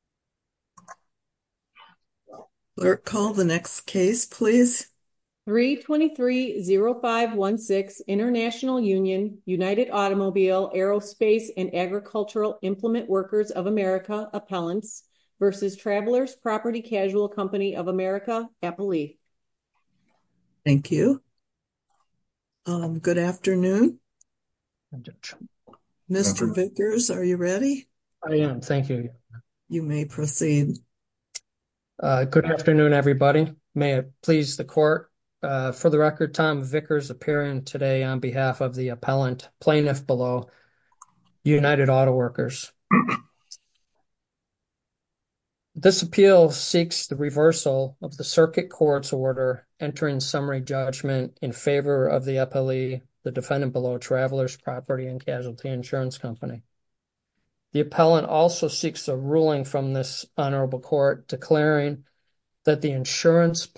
Appellants v. Travelers Property Casualty Co. of America Appellee. Thank you. Good afternoon. Mr. Vickers, are you ready? I am. Thank you. You may proceed. Good afternoon, everybody. May it please the court. For the record, Tom Vickers appearing today on behalf of the Appellant Plaintiff Below, United Auto Workers. This appeal seeks the reversal of the circuit court's order entering summary judgment in favor of the Appellee, the Defendant Below, Travelers Property and Casualty Insurance Company. The Appellant also seeks a ruling from this Honorable Court declaring that the insurance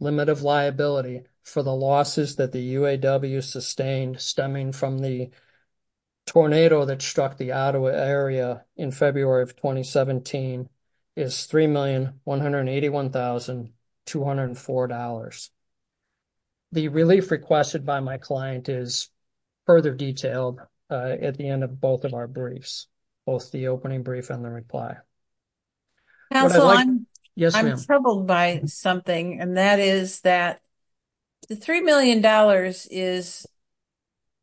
limit of liability for the losses that the UAW sustained stemming from the tornado that struck the Ottawa area in February of 2017 is $3,181,204. The relief requested by my client is further detailed at the end of both of our briefs, both the opening brief and the reply. Counselor, I'm troubled by something and that is that the $3 million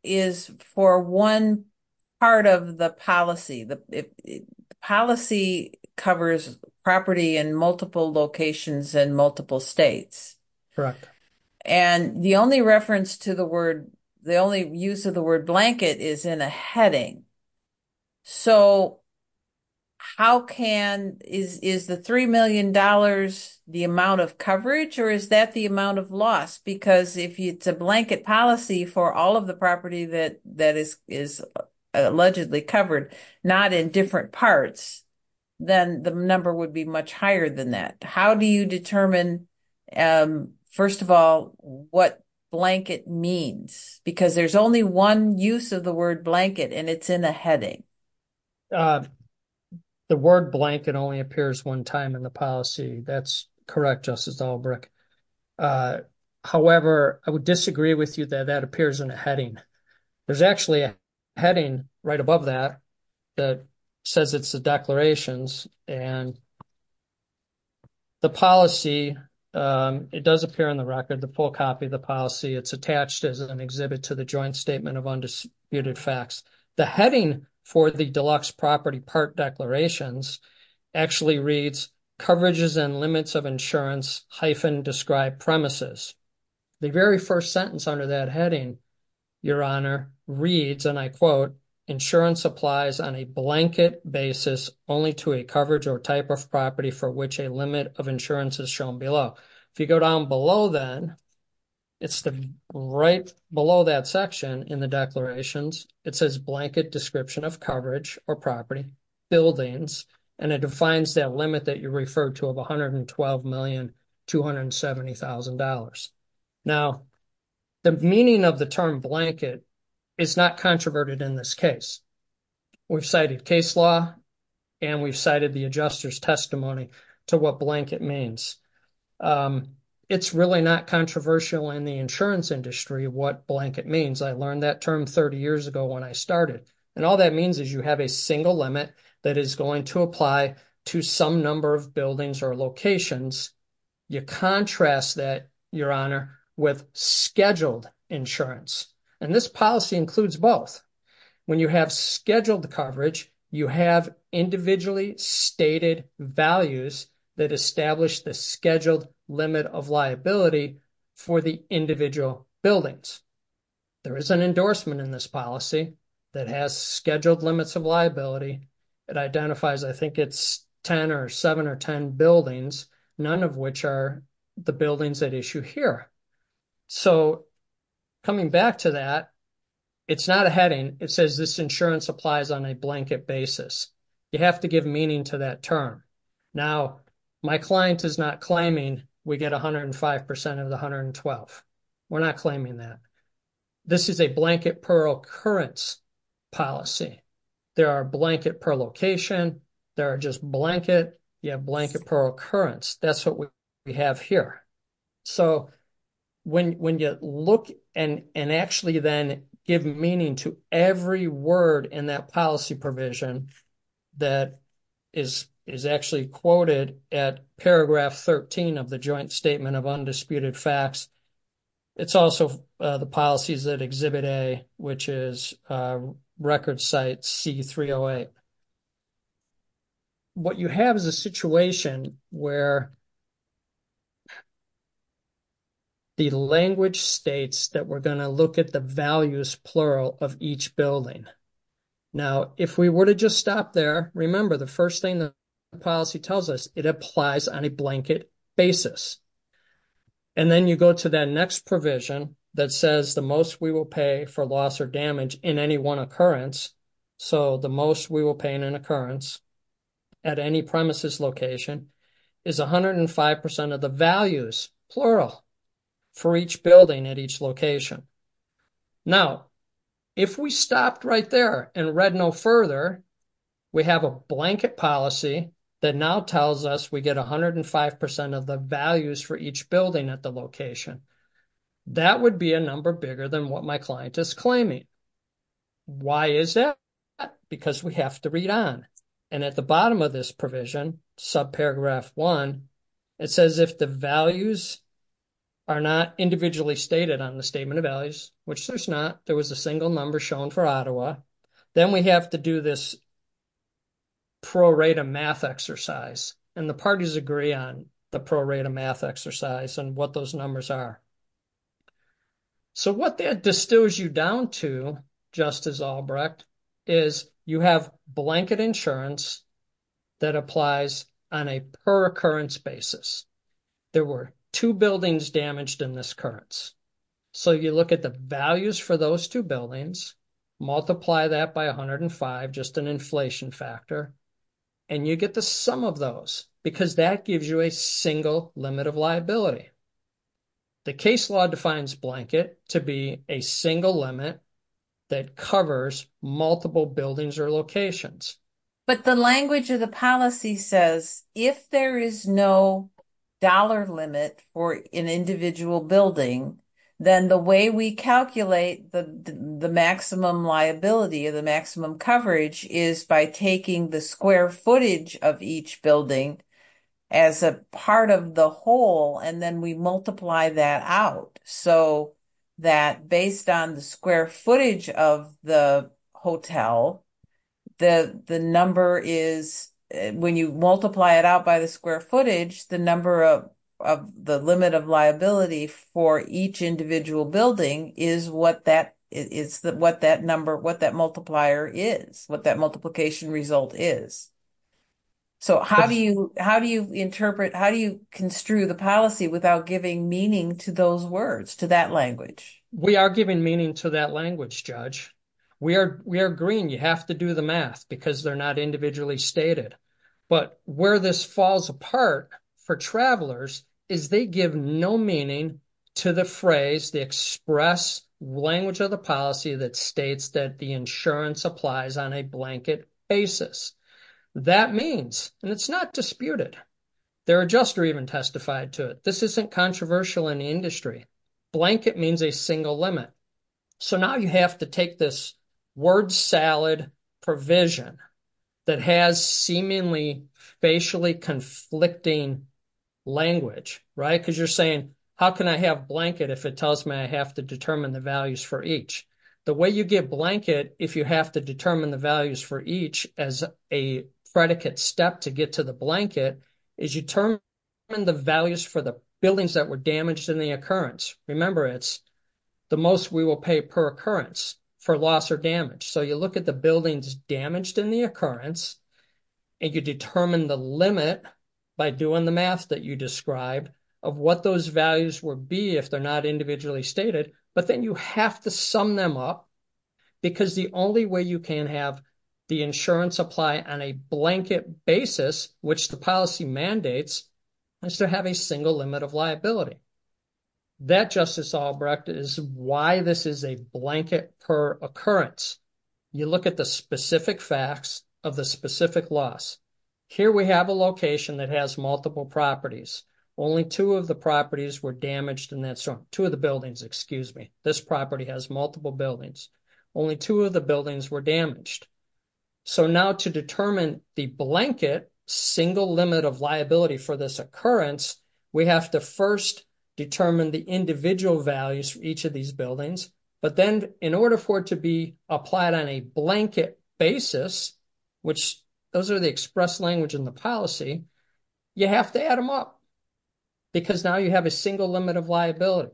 is for one part of the policy. The policy covers property in multiple locations in multiple states. Correct. And the only reference to the word, the only use of the word blanket is in a heading. So how can, is the $3 million the amount of coverage or is that the amount of loss? Because if it's a blanket policy for all of the property that is allegedly covered, not in different parts, then the number would be much higher than that. How do you determine, first of all, what blanket means? Because there's only one use of the word blanket and it's in a heading. The word blanket only appears one time in the policy. That's correct, Justice Albrecht. However, I would disagree with you that that appears in a heading. There's actually a heading right above that that says it's the declarations and the policy. It does appear in the record, the full copy of the policy. It's attached as an exhibit to the joint statement of undisputed facts. The heading for the deluxe property part declarations actually reads coverages and limits of insurance hyphen described premises. The very first sentence under that heading, your honor, reads and I quote, insurance applies on a blanket basis only to a coverage or type of property for which a limit of insurance is shown below. If you go down below then, it's the right below that section in the declarations. It says blanket description of coverage or property buildings and it defines that limit that you referred to of $112,270,000. Now, the meaning of the term blanket is not controverted in this case. We've cited case law and we've cited the adjuster's testimony to what blanket means. It's really not controversial in the insurance industry what blanket means. I learned that term 30 years ago when I started and all that means is you have a single limit that is going to apply to some number of buildings or locations. You contrast that, your honor, with scheduled insurance and this policy includes both. When you have scheduled coverage, you have individually stated values that establish the scheduled limit of liability for the individual buildings. There is an endorsement in this policy that has scheduled limits of liability. It identifies, I think it's 10 or 7 or 10 buildings, none of which are the buildings at issue here. So, coming back to that, it's not a heading. It says this insurance applies on a blanket basis. You have to give meaning to that term. Now, my client is not claiming we get 105% of the 112. We're not claiming that. This is a blanket per occurrence policy. There are blanket per location, there are just blanket, you have blanket per occurrence. That's what we have here. So, when you look and actually then give meaning to every word in that policy provision that is actually quoted at paragraph 13 of the Joint Statement of Undisputed Facts, it's also the policies that exhibit A, which is record site C308. What you have is a situation where the language states that we're going to look at the values plural of each building. Now, if we were to just stop there, remember the first thing the policy tells us, it applies on a blanket basis. And then you go to that next provision that says the most we will pay for loss or damage in any one occurrence. So, the most we will pay in an occurrence at any premises location is 105% of the values plural for each building at each location. Now, if we stopped right there and read no further, we have a blanket policy that now tells us we get 105% of the values for each building at the location. That would be a number bigger than what my client is claiming. Why is that? Because we have to read on. And at the bottom of this provision, subparagraph one, it says if the values are not individually stated on the statement of values, which there's not, there was a single number shown for Ottawa, then we have to do this prorate a math exercise. And the parties agree on the prorate a math exercise and what those numbers are. So, what that distills you down to, Justice Albrecht, is you have blanket insurance that applies on a per occurrence basis. There were two buildings damaged in this occurrence. So, you look at the values for those two buildings, multiply that by 105, just an inflation factor, and you get the sum of those because that gives you a single limit of liability. The case law defines blanket to be a single limit that covers multiple buildings or locations. But the language of the policy says if there is no dollar limit for an individual building, then the way we calculate the maximum liability or the maximum coverage is by taking the square footage of each building as a part of the whole, and then we multiply that out so that based on the square footage of the hotel, the number is, when you multiply it out by the square footage, the number of the limit of liability for each individual building is what that multiplier is, what that multiplication result is. So, how do you interpret, how do you construe the policy without giving meaning to those words, to that language? We are giving meaning to that language, Judge. We are agreeing you have to do the math because they're not individually stated. But where this falls apart for travelers is they give no meaning to the phrase, the express language of the policy that states that the insurance applies on a blanket basis. That means, and it's not disputed, there are just or even testified to it, this isn't controversial in the industry, blanket means a single limit. So, now you have to take this word salad provision that has seemingly facially conflicting language, right? Because you're saying, how can I have blanket if it tells me I have to determine the values for each? The way you get blanket if you have to determine the values for each as a predicate step to get to the blanket is you determine the values for the buildings that were damaged in the occurrence. Remember, it's the most we will pay per occurrence for loss or damage. So, you look at the buildings damaged in the occurrence and you determine the limit by doing the math that you described of what those values would be if they're not individually stated. But then you have to sum them up because the only way you can have the insurance apply on a blanket basis, which the policy mandates, is to have a single limit of liability. That, Justice Albrecht, is why this is a blanket per occurrence. You look at the specific facts of the specific loss. Here we have a location that has multiple properties. Only two of the properties were damaged in that zone. Two of the buildings, excuse me. This property has multiple buildings. Only two of the buildings were damaged. So, now to determine the blanket single limit of liability for this occurrence, we have to first determine the individual values for each of these buildings. But then in order for it to be applied on a blanket basis, which those are the express language in the policy, you have to add them up because now you have a single limit of liability.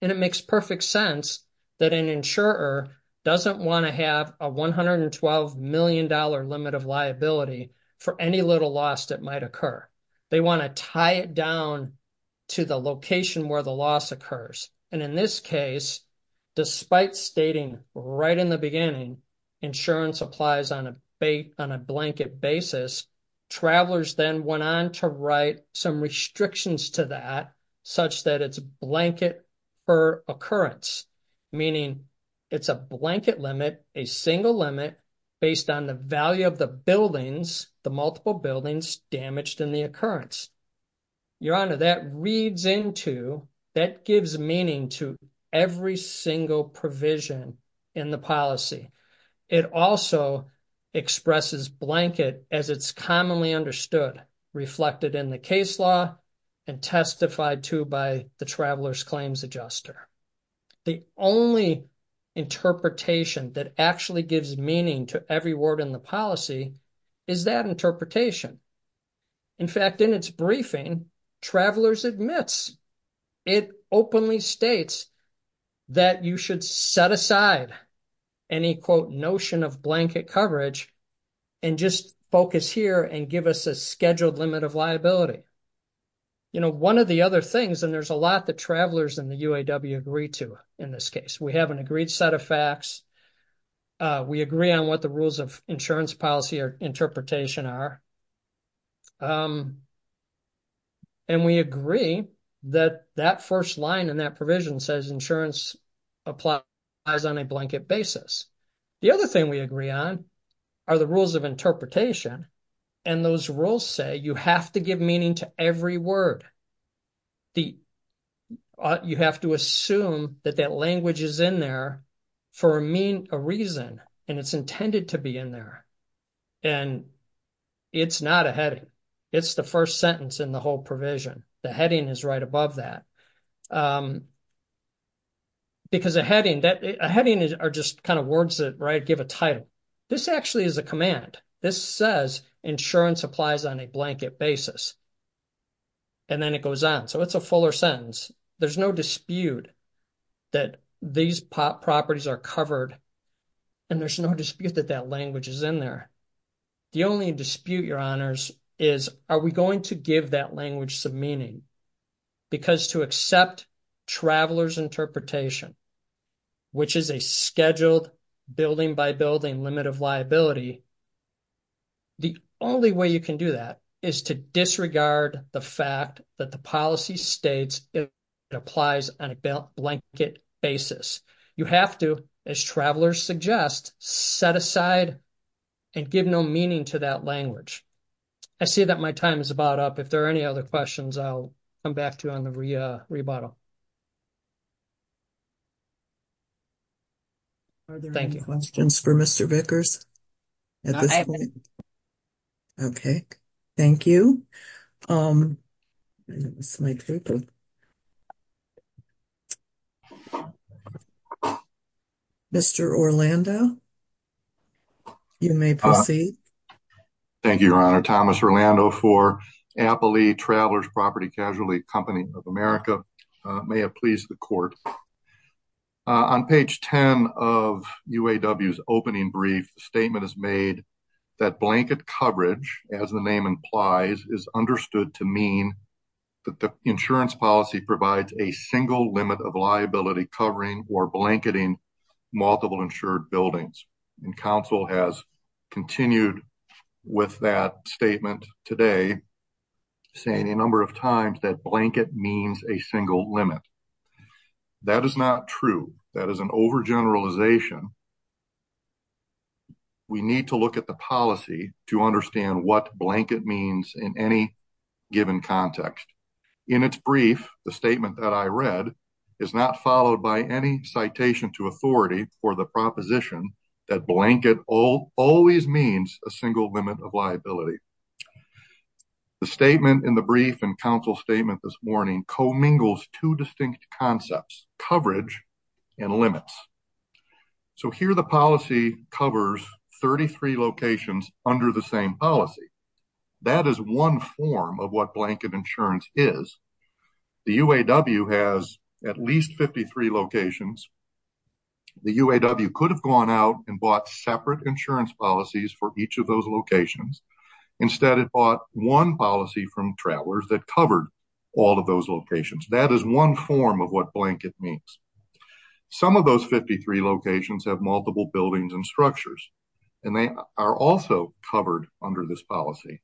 And it makes perfect sense that an insurer doesn't want to have a $112 million limit of liability for any little loss that might occur. They want to tie it down to the location where the loss occurs. And in this case, despite stating right in the beginning insurance applies on a blanket basis, travelers then went on to write some restrictions to that such that it's blanket per occurrence. Meaning, it's a blanket limit, a single limit based on the value of the buildings, the multiple buildings damaged in the occurrence. Your honor, that reads into, that gives meaning to every single provision in the policy. It also expresses blanket as it's commonly understood, reflected in the case law and testified to by the traveler's claims adjuster. The only interpretation that actually gives meaning to every word in the policy is that interpretation. In fact, in its briefing, travelers admits, it openly states that you should set aside any, quote, notion of blanket coverage and just focus here and give us a scheduled limit of liability. You know, one of the other things, and there's a lot that travelers in the UAW agree to in this case. We have an agreed set of facts. We agree on what the rules of insurance policy or interpretation are. And we agree that that first line in that provision says insurance applies on a blanket basis. The other thing we agree on are the rules of interpretation. And those rules say you have to give meaning to every word. You have to assume that that language is in there for a reason, and it's intended to be in there. And it's not a heading. It's the first sentence in the whole provision. The heading is right above that. Because a heading are just kind of words that give a title. This actually is a command. This says insurance applies on a blanket basis. And then it goes on. So, it's a fuller sentence. There's no dispute that these properties are covered, and there's no dispute that that language is in there. The only dispute, your honors, is are we going to give that language some meaning? Because to accept traveler's interpretation, which is a scheduled building by building limit of liability, the only way you can do that is to disregard the fact that the policy states it applies on a blanket basis. You have to, as travelers suggest, set aside and give no meaning to that language. I see that my time is about up. If there are any other questions, I'll come back to you on the rebuttal. Are there any questions for Mr. Vickers at this point? Okay. Thank you. Mr. Orlando, you may proceed. Thank you, your honor. Thomas Orlando for Appley Travelers Property Casualty Company of America. May it please the court. On page 10 of UAW's opening brief, the statement is made that blanket coverage, as the name implies, is understood to mean that the insurance policy provides a single limit of liability covering or blanketing multiple insured buildings. And counsel has continued with that statement today, saying a number of times that blanket means a single limit. That is not true. That is an overgeneralization. We need to look at the policy to understand what blanket means in any given context. In its brief, the statement that I read is not followed by any citation to authority for the proposition that blanket all always means a single limit of liability. The statement in the brief and counsel statement this morning co-mingles two distinct concepts, coverage and limits. So here the policy covers 33 locations under the same policy. That is one form of what blanket insurance is. The UAW has at least 53 locations. The UAW could have gone out and bought separate insurance policies for each of those locations. Instead, it bought one policy from travelers that covered all of those locations. That is one form of what blanket means. Some of those 53 locations have multiple buildings and structures. And they are also covered under this policy.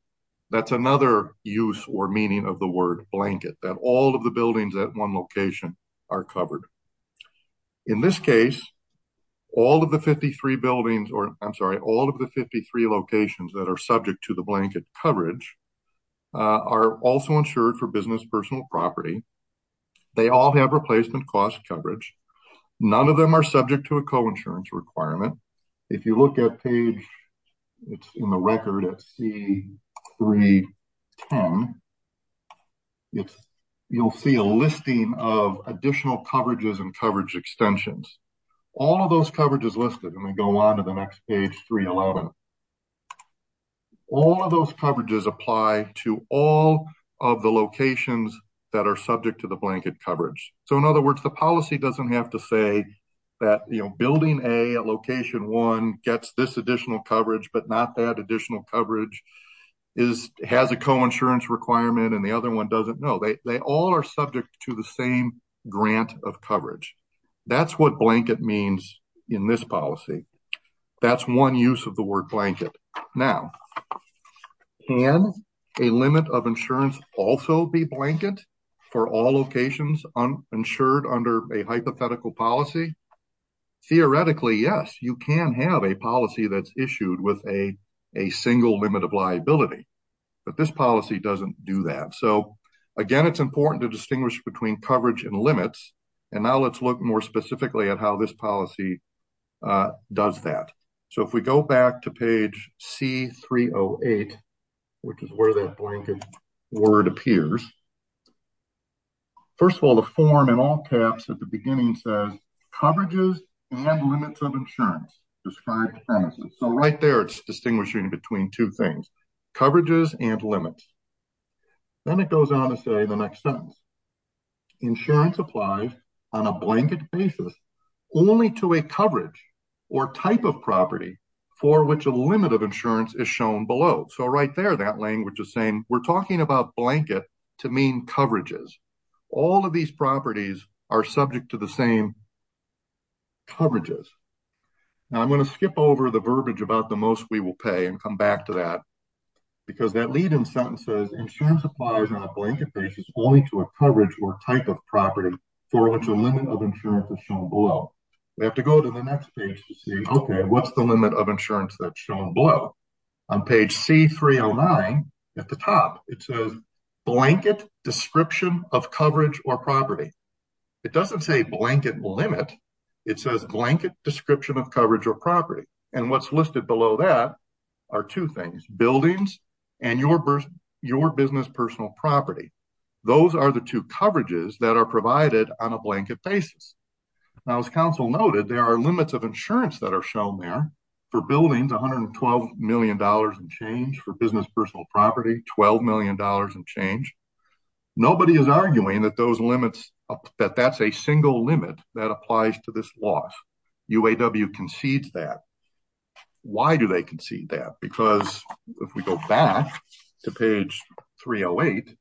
That is another use or meaning of the word blanket, that all of the buildings at one location are covered. In this case, all of the 53 buildings or I'm sorry, all of the 53 locations that are subject to the blanket coverage are also insured for business property. They all have replacement cost coverage. None of them are subject to a co-insurance requirement. If you look at page, it's in the record at C310, you'll see a listing of additional coverages and coverage extensions. All of those coverages listed and we go on to the next page 311. All of those coverages apply to all of the locations that are subject to the blanket coverage. So in other words, the policy doesn't have to say that building A at location one gets this additional coverage, but not that additional coverage has a co-insurance requirement and the other one doesn't know. They all are subject to the same grant of coverage. That's what blanket means in this policy. That's one use of the word blanket. Now, can a limit of insurance also be blanket for all locations insured under a hypothetical policy? Theoretically, yes, you can have a policy that's issued with a single limit of liability, but this policy doesn't do that. So again, it's important to distinguish between coverage and and now let's look more specifically at how this policy does that. So if we go back to page C308, which is where that blanket word appears. First of all, the form in all caps at the beginning says coverages and limits of insurance described premises. So right there, it's distinguishing between two things, coverages and limits. Then it goes on to say the next sentence, insurance applies on a blanket basis only to a coverage or type of property for which a limit of insurance is shown below. So right there, that language is saying we're talking about blanket to mean coverages. All of these properties are subject to the same coverages. Now I'm going to skip over the verbiage about the most we will pay and come back to that because that lead in sentence says insurance applies on a blanket basis only to a coverage or type of property for which a limit of insurance is shown below. We have to go to the next page to see, okay, what's the limit of insurance that's shown below? On page C309 at the top, it says blanket description of coverage or property. It doesn't say blanket limit. It says blanket description of coverage or property. And what's listed below that are two things, buildings and your business personal property. Those are the two coverages that are provided on a blanket basis. Now as council noted, there are limits of insurance that are shown there for buildings, $112 million in change for business personal property, $12 million in change. Nobody is arguing that those limits, that that's a single limit that applies to this loss. UAW concedes that. Why do they concede that? Because if we go back to page 308,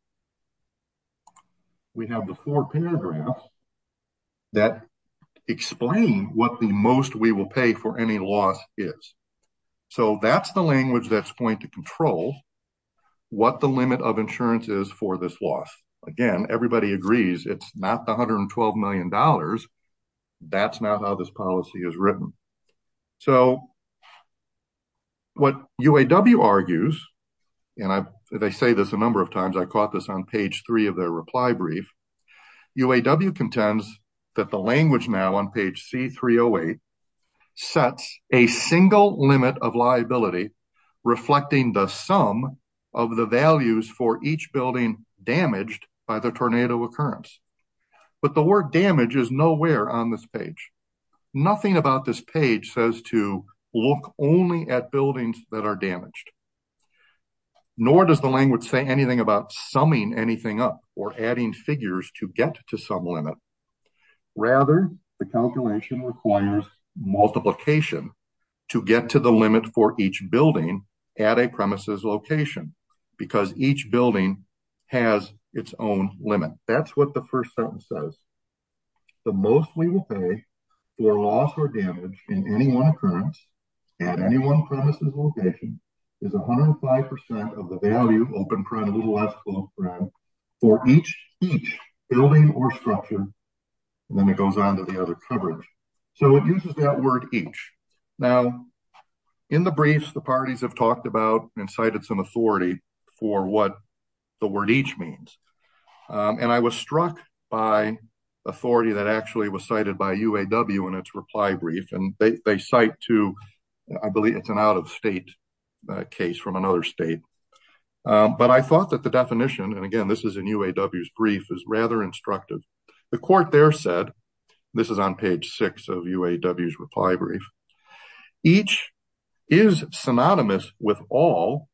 we have the four paragraphs that explain what the most we will pay for any loss is. So that's the point to control what the limit of insurance is for this loss. Again, everybody agrees it's not the $112 million. That's not how this policy is written. So what UAW argues, and they say this a number of times, I caught this on page three of their reply brief. UAW contends that language now on page C308 sets a single limit of liability reflecting the sum of the values for each building damaged by the tornado occurrence. But the word damage is nowhere on this page. Nothing about this page says to look only at buildings that are damaged. Nor does the language say anything about summing anything up or adding figures to get to some limit. Rather, the calculation requires multiplication to get to the limit for each building at a premises location because each building has its own limit. That's what the first sentence says. The most we will pay for loss or damage in any one occurrence at any one premises location is 105% of the value for each building or structure. Then it goes on to the other coverage. So it uses that word each. Now, in the briefs, the parties have talked about and cited some authority for what the word each means. And I was struck by authority that actually was cited by UAW in its reply brief. And they cite to I believe it's an out-of-state case from another state. But I thought that the definition, and again, this is in UAW's brief, is rather instructive. The court there said, this is on page six of UAW's reply brief, each is synonymous with all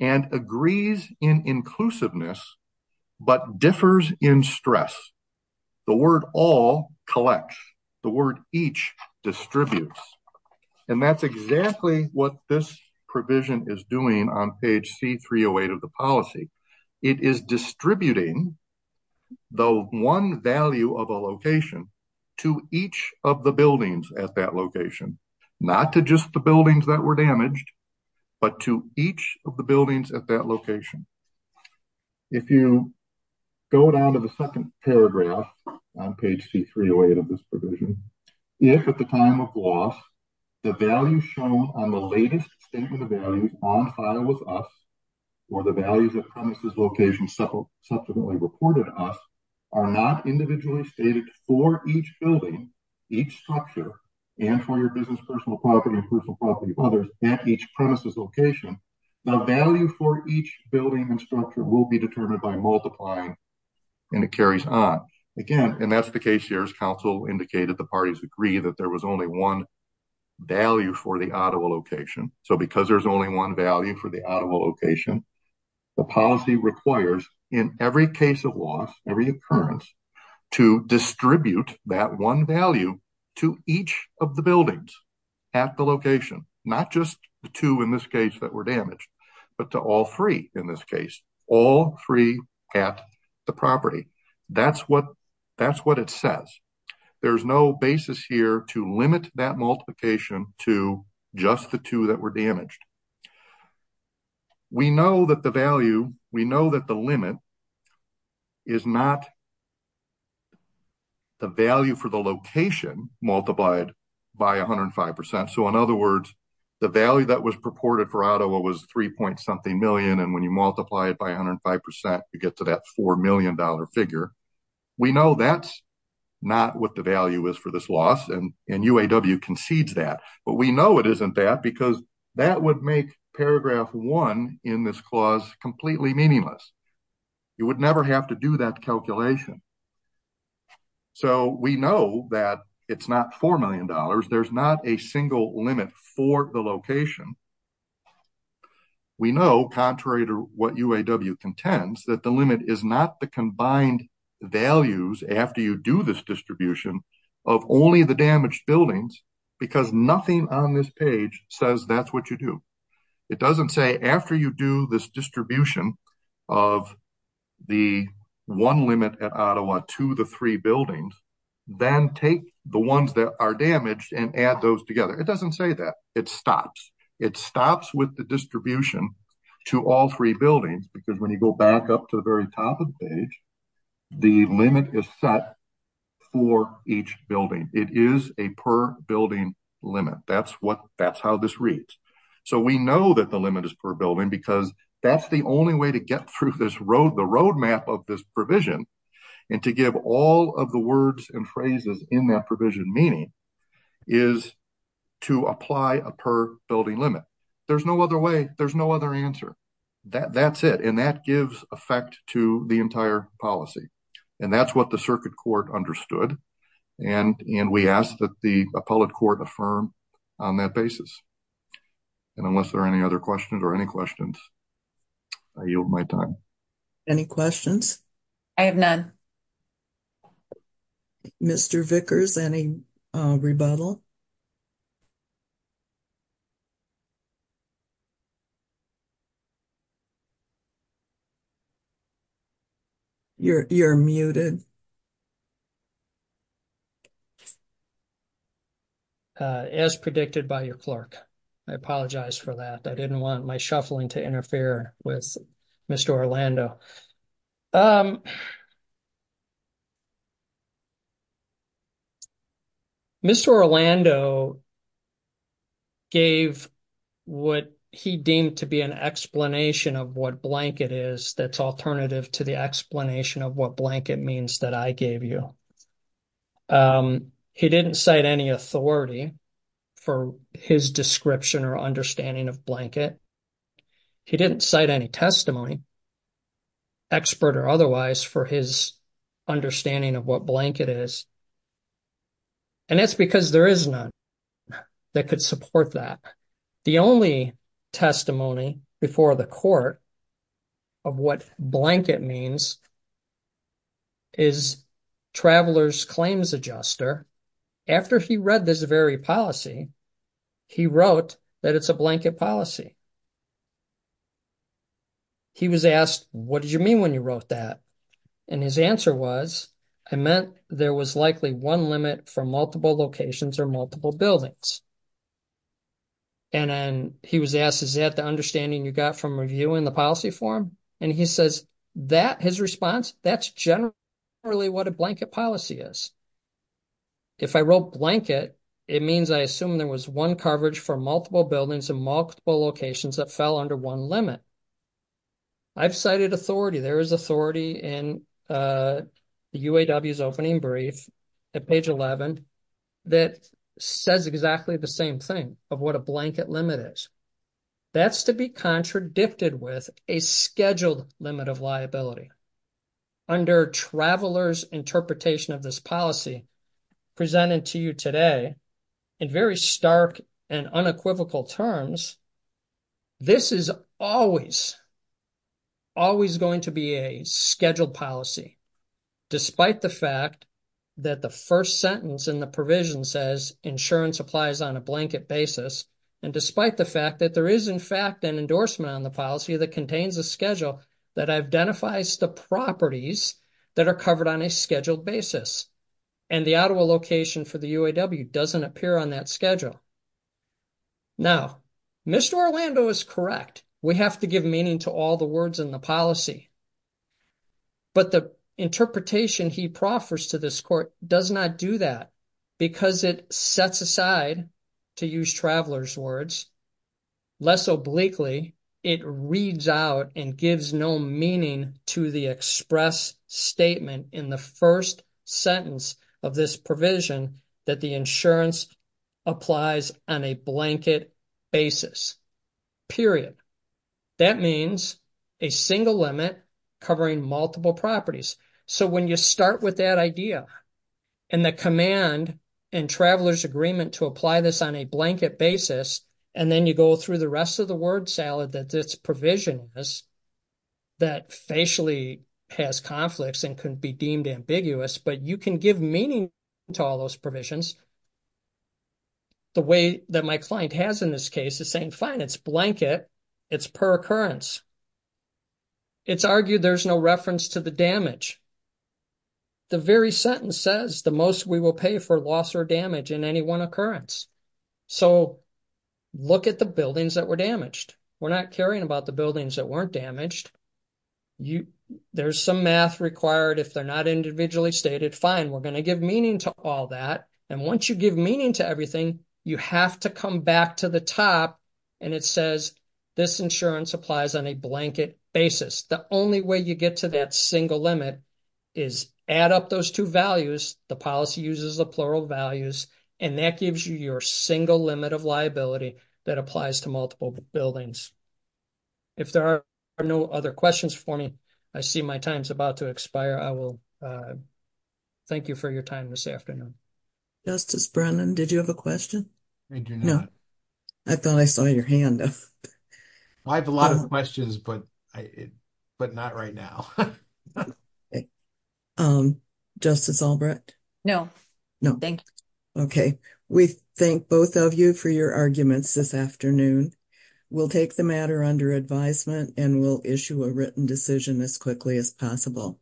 and agrees in inclusiveness, but differs in stress. The word all collects. The word each distributes. And that's exactly what this provision is doing on page C-308 of the policy. It is distributing the one value of a location to each of the buildings at that location, not to just the buildings that were damaged, but to each of the buildings at that location. If you go down to the second paragraph on page C-308 of this provision, if at the time of loss, the value shown on the latest statement of values on file with us, or the values of premises locations subsequently reported to us, are not individually stated for each building, each structure, and for your business personal property and personal property of others at each premises location, the value for each building and structure will be determined by multiplying and it carries on. Again, and that's the case here as counsel indicated, the parties agree that there was only one value for the Ottawa location. So because there's only one value for the Ottawa location, the policy requires in every case of loss, every occurrence, to distribute that one value to each of the buildings at the location, not just the two in this case that were damaged, but to all three in this case, all three at the property. That's what it says. There's no basis here to limit that multiplication to just the two that were damaged. We know that the value, we know that the limit is not the value for the location multiplied by 105%. So in other words, the value that was purported for Ottawa was 3 point something million and when you multiply it by 105%, you get to that $4 million figure. We know that's not what the value is for this loss and UAW concedes that, but we know it isn't that because that would be make paragraph one in this clause completely meaningless. You would never have to do that calculation. So we know that it's not $4 million. There's not a single limit for the location. We know contrary to what UAW contends that the limit is not the combined values after you do this distribution of only the damaged buildings because nothing on this page says that's what you do. It doesn't say after you do this distribution of the one limit at Ottawa to the three buildings, then take the ones that are damaged and add those together. It doesn't say that. It stops. It stops with the distribution to all three buildings because when you go back up to the very top of the page, the limit is set for each building. It is a per building limit. That's how this reads. So we know that the limit is per building because that's the only way to get through the roadmap of this provision and to give all of the words and phrases in that provision meaning is to apply a per building limit. There's no other way. There's no other answer. That's it. And that gives effect to the entire policy. And that's what the circuit court understood. And we ask that the appellate court affirm on that basis. And unless there are any other questions or any questions, I yield my time. Any questions? I have none. Mr. Vickers, any rebuttal? You're muted. As predicted by your clerk. I apologize for that. I didn't want my shuffling to interfere with Mr. Orlando. Mr. Orlando gave what he deemed to be an explanation of what blanket is that's alternative to the explanation of what blanket means that I gave you. He didn't cite any authority for his description or understanding of blanket. He didn't cite any testimony, expert or otherwise, for his understanding of what blanket is. And that's because there is none that could support that. The only testimony before the court of what blanket means is Traveler's Claims Adjuster. After he read this very policy, he wrote that it's a blanket policy. He was asked, what did you mean when you wrote that? And his answer was, it meant there was likely one limit for multiple locations or multiple buildings. And then he was asked, is that the understanding you got from reviewing the policy form? And he says that his response, that's generally what a blanket policy is. If I wrote blanket, it means I assume there was one coverage for multiple buildings and multiple locations that fell under one limit. I've cited authority. There is authority in the UAW's opening brief at page 11 that says exactly the same thing of what a blanket limit is. That's to be contradicted with a scheduled limit of liability. Under Traveler's interpretation of this policy presented to you today, in very stark and unequivocal terms, this is always, always going to be a scheduled policy, despite the fact that the first sentence in the provision says insurance applies on a blanket basis. And despite the fact that there is, in fact, an endorsement on the policy that contains a schedule that identifies the properties that are covered on a scheduled basis. And the Ottawa location for the UAW doesn't appear on that schedule. Now, Mr. Orlando is correct. We have to give meaning to all the words in the policy. But the interpretation he proffers to this court does not do that because it sets aside, to use Traveler's words, less obliquely, it reads out and gives no meaning to the express statement in the first sentence of this provision that the insurance applies on a blanket basis. Period. That means a single limit covering multiple properties. So when you start with that idea and the command in Traveler's agreement to apply this on a blanket basis, and then you go through the rest of the word salad that this provision is, that facially has conflicts and can be deemed ambiguous, but you can give meaning to all those provisions. The way that my client has in this case is saying, fine, it's blanket, it's per occurrence. It's argued there's no reference to the damage. The very sentence says the most we will pay for loss or damage in any one occurrence. So look at the buildings that were damaged. We're not caring about the buildings that weren't damaged. There's some math required if they're not individually stated, fine, we're going to give meaning to all that. And once you give meaning to everything, you have to come back to the top, and it says this insurance applies on a blanket basis. The only way you get to that single limit is add up those two values. The policy uses the plural values, and that gives you your single limit of liability that applies to multiple buildings. If there are no other questions for me, I see my time's about to expire. I will thank you for your time this afternoon. Justice Brennan, did you have a question? I do not. I thought I saw your hand up. I have a lot of questions, but not right now. Justice Albrecht? No, thank you. Okay, we thank both of you for your arguments this afternoon. We'll take the matter under advisement, and we'll issue a written decision as quickly as possible.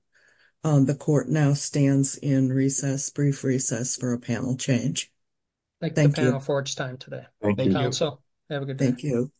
The court now stands in recess, brief recess, for a panel change. Thank you for your time today. Thank you, counsel. Have a good day. Thank you.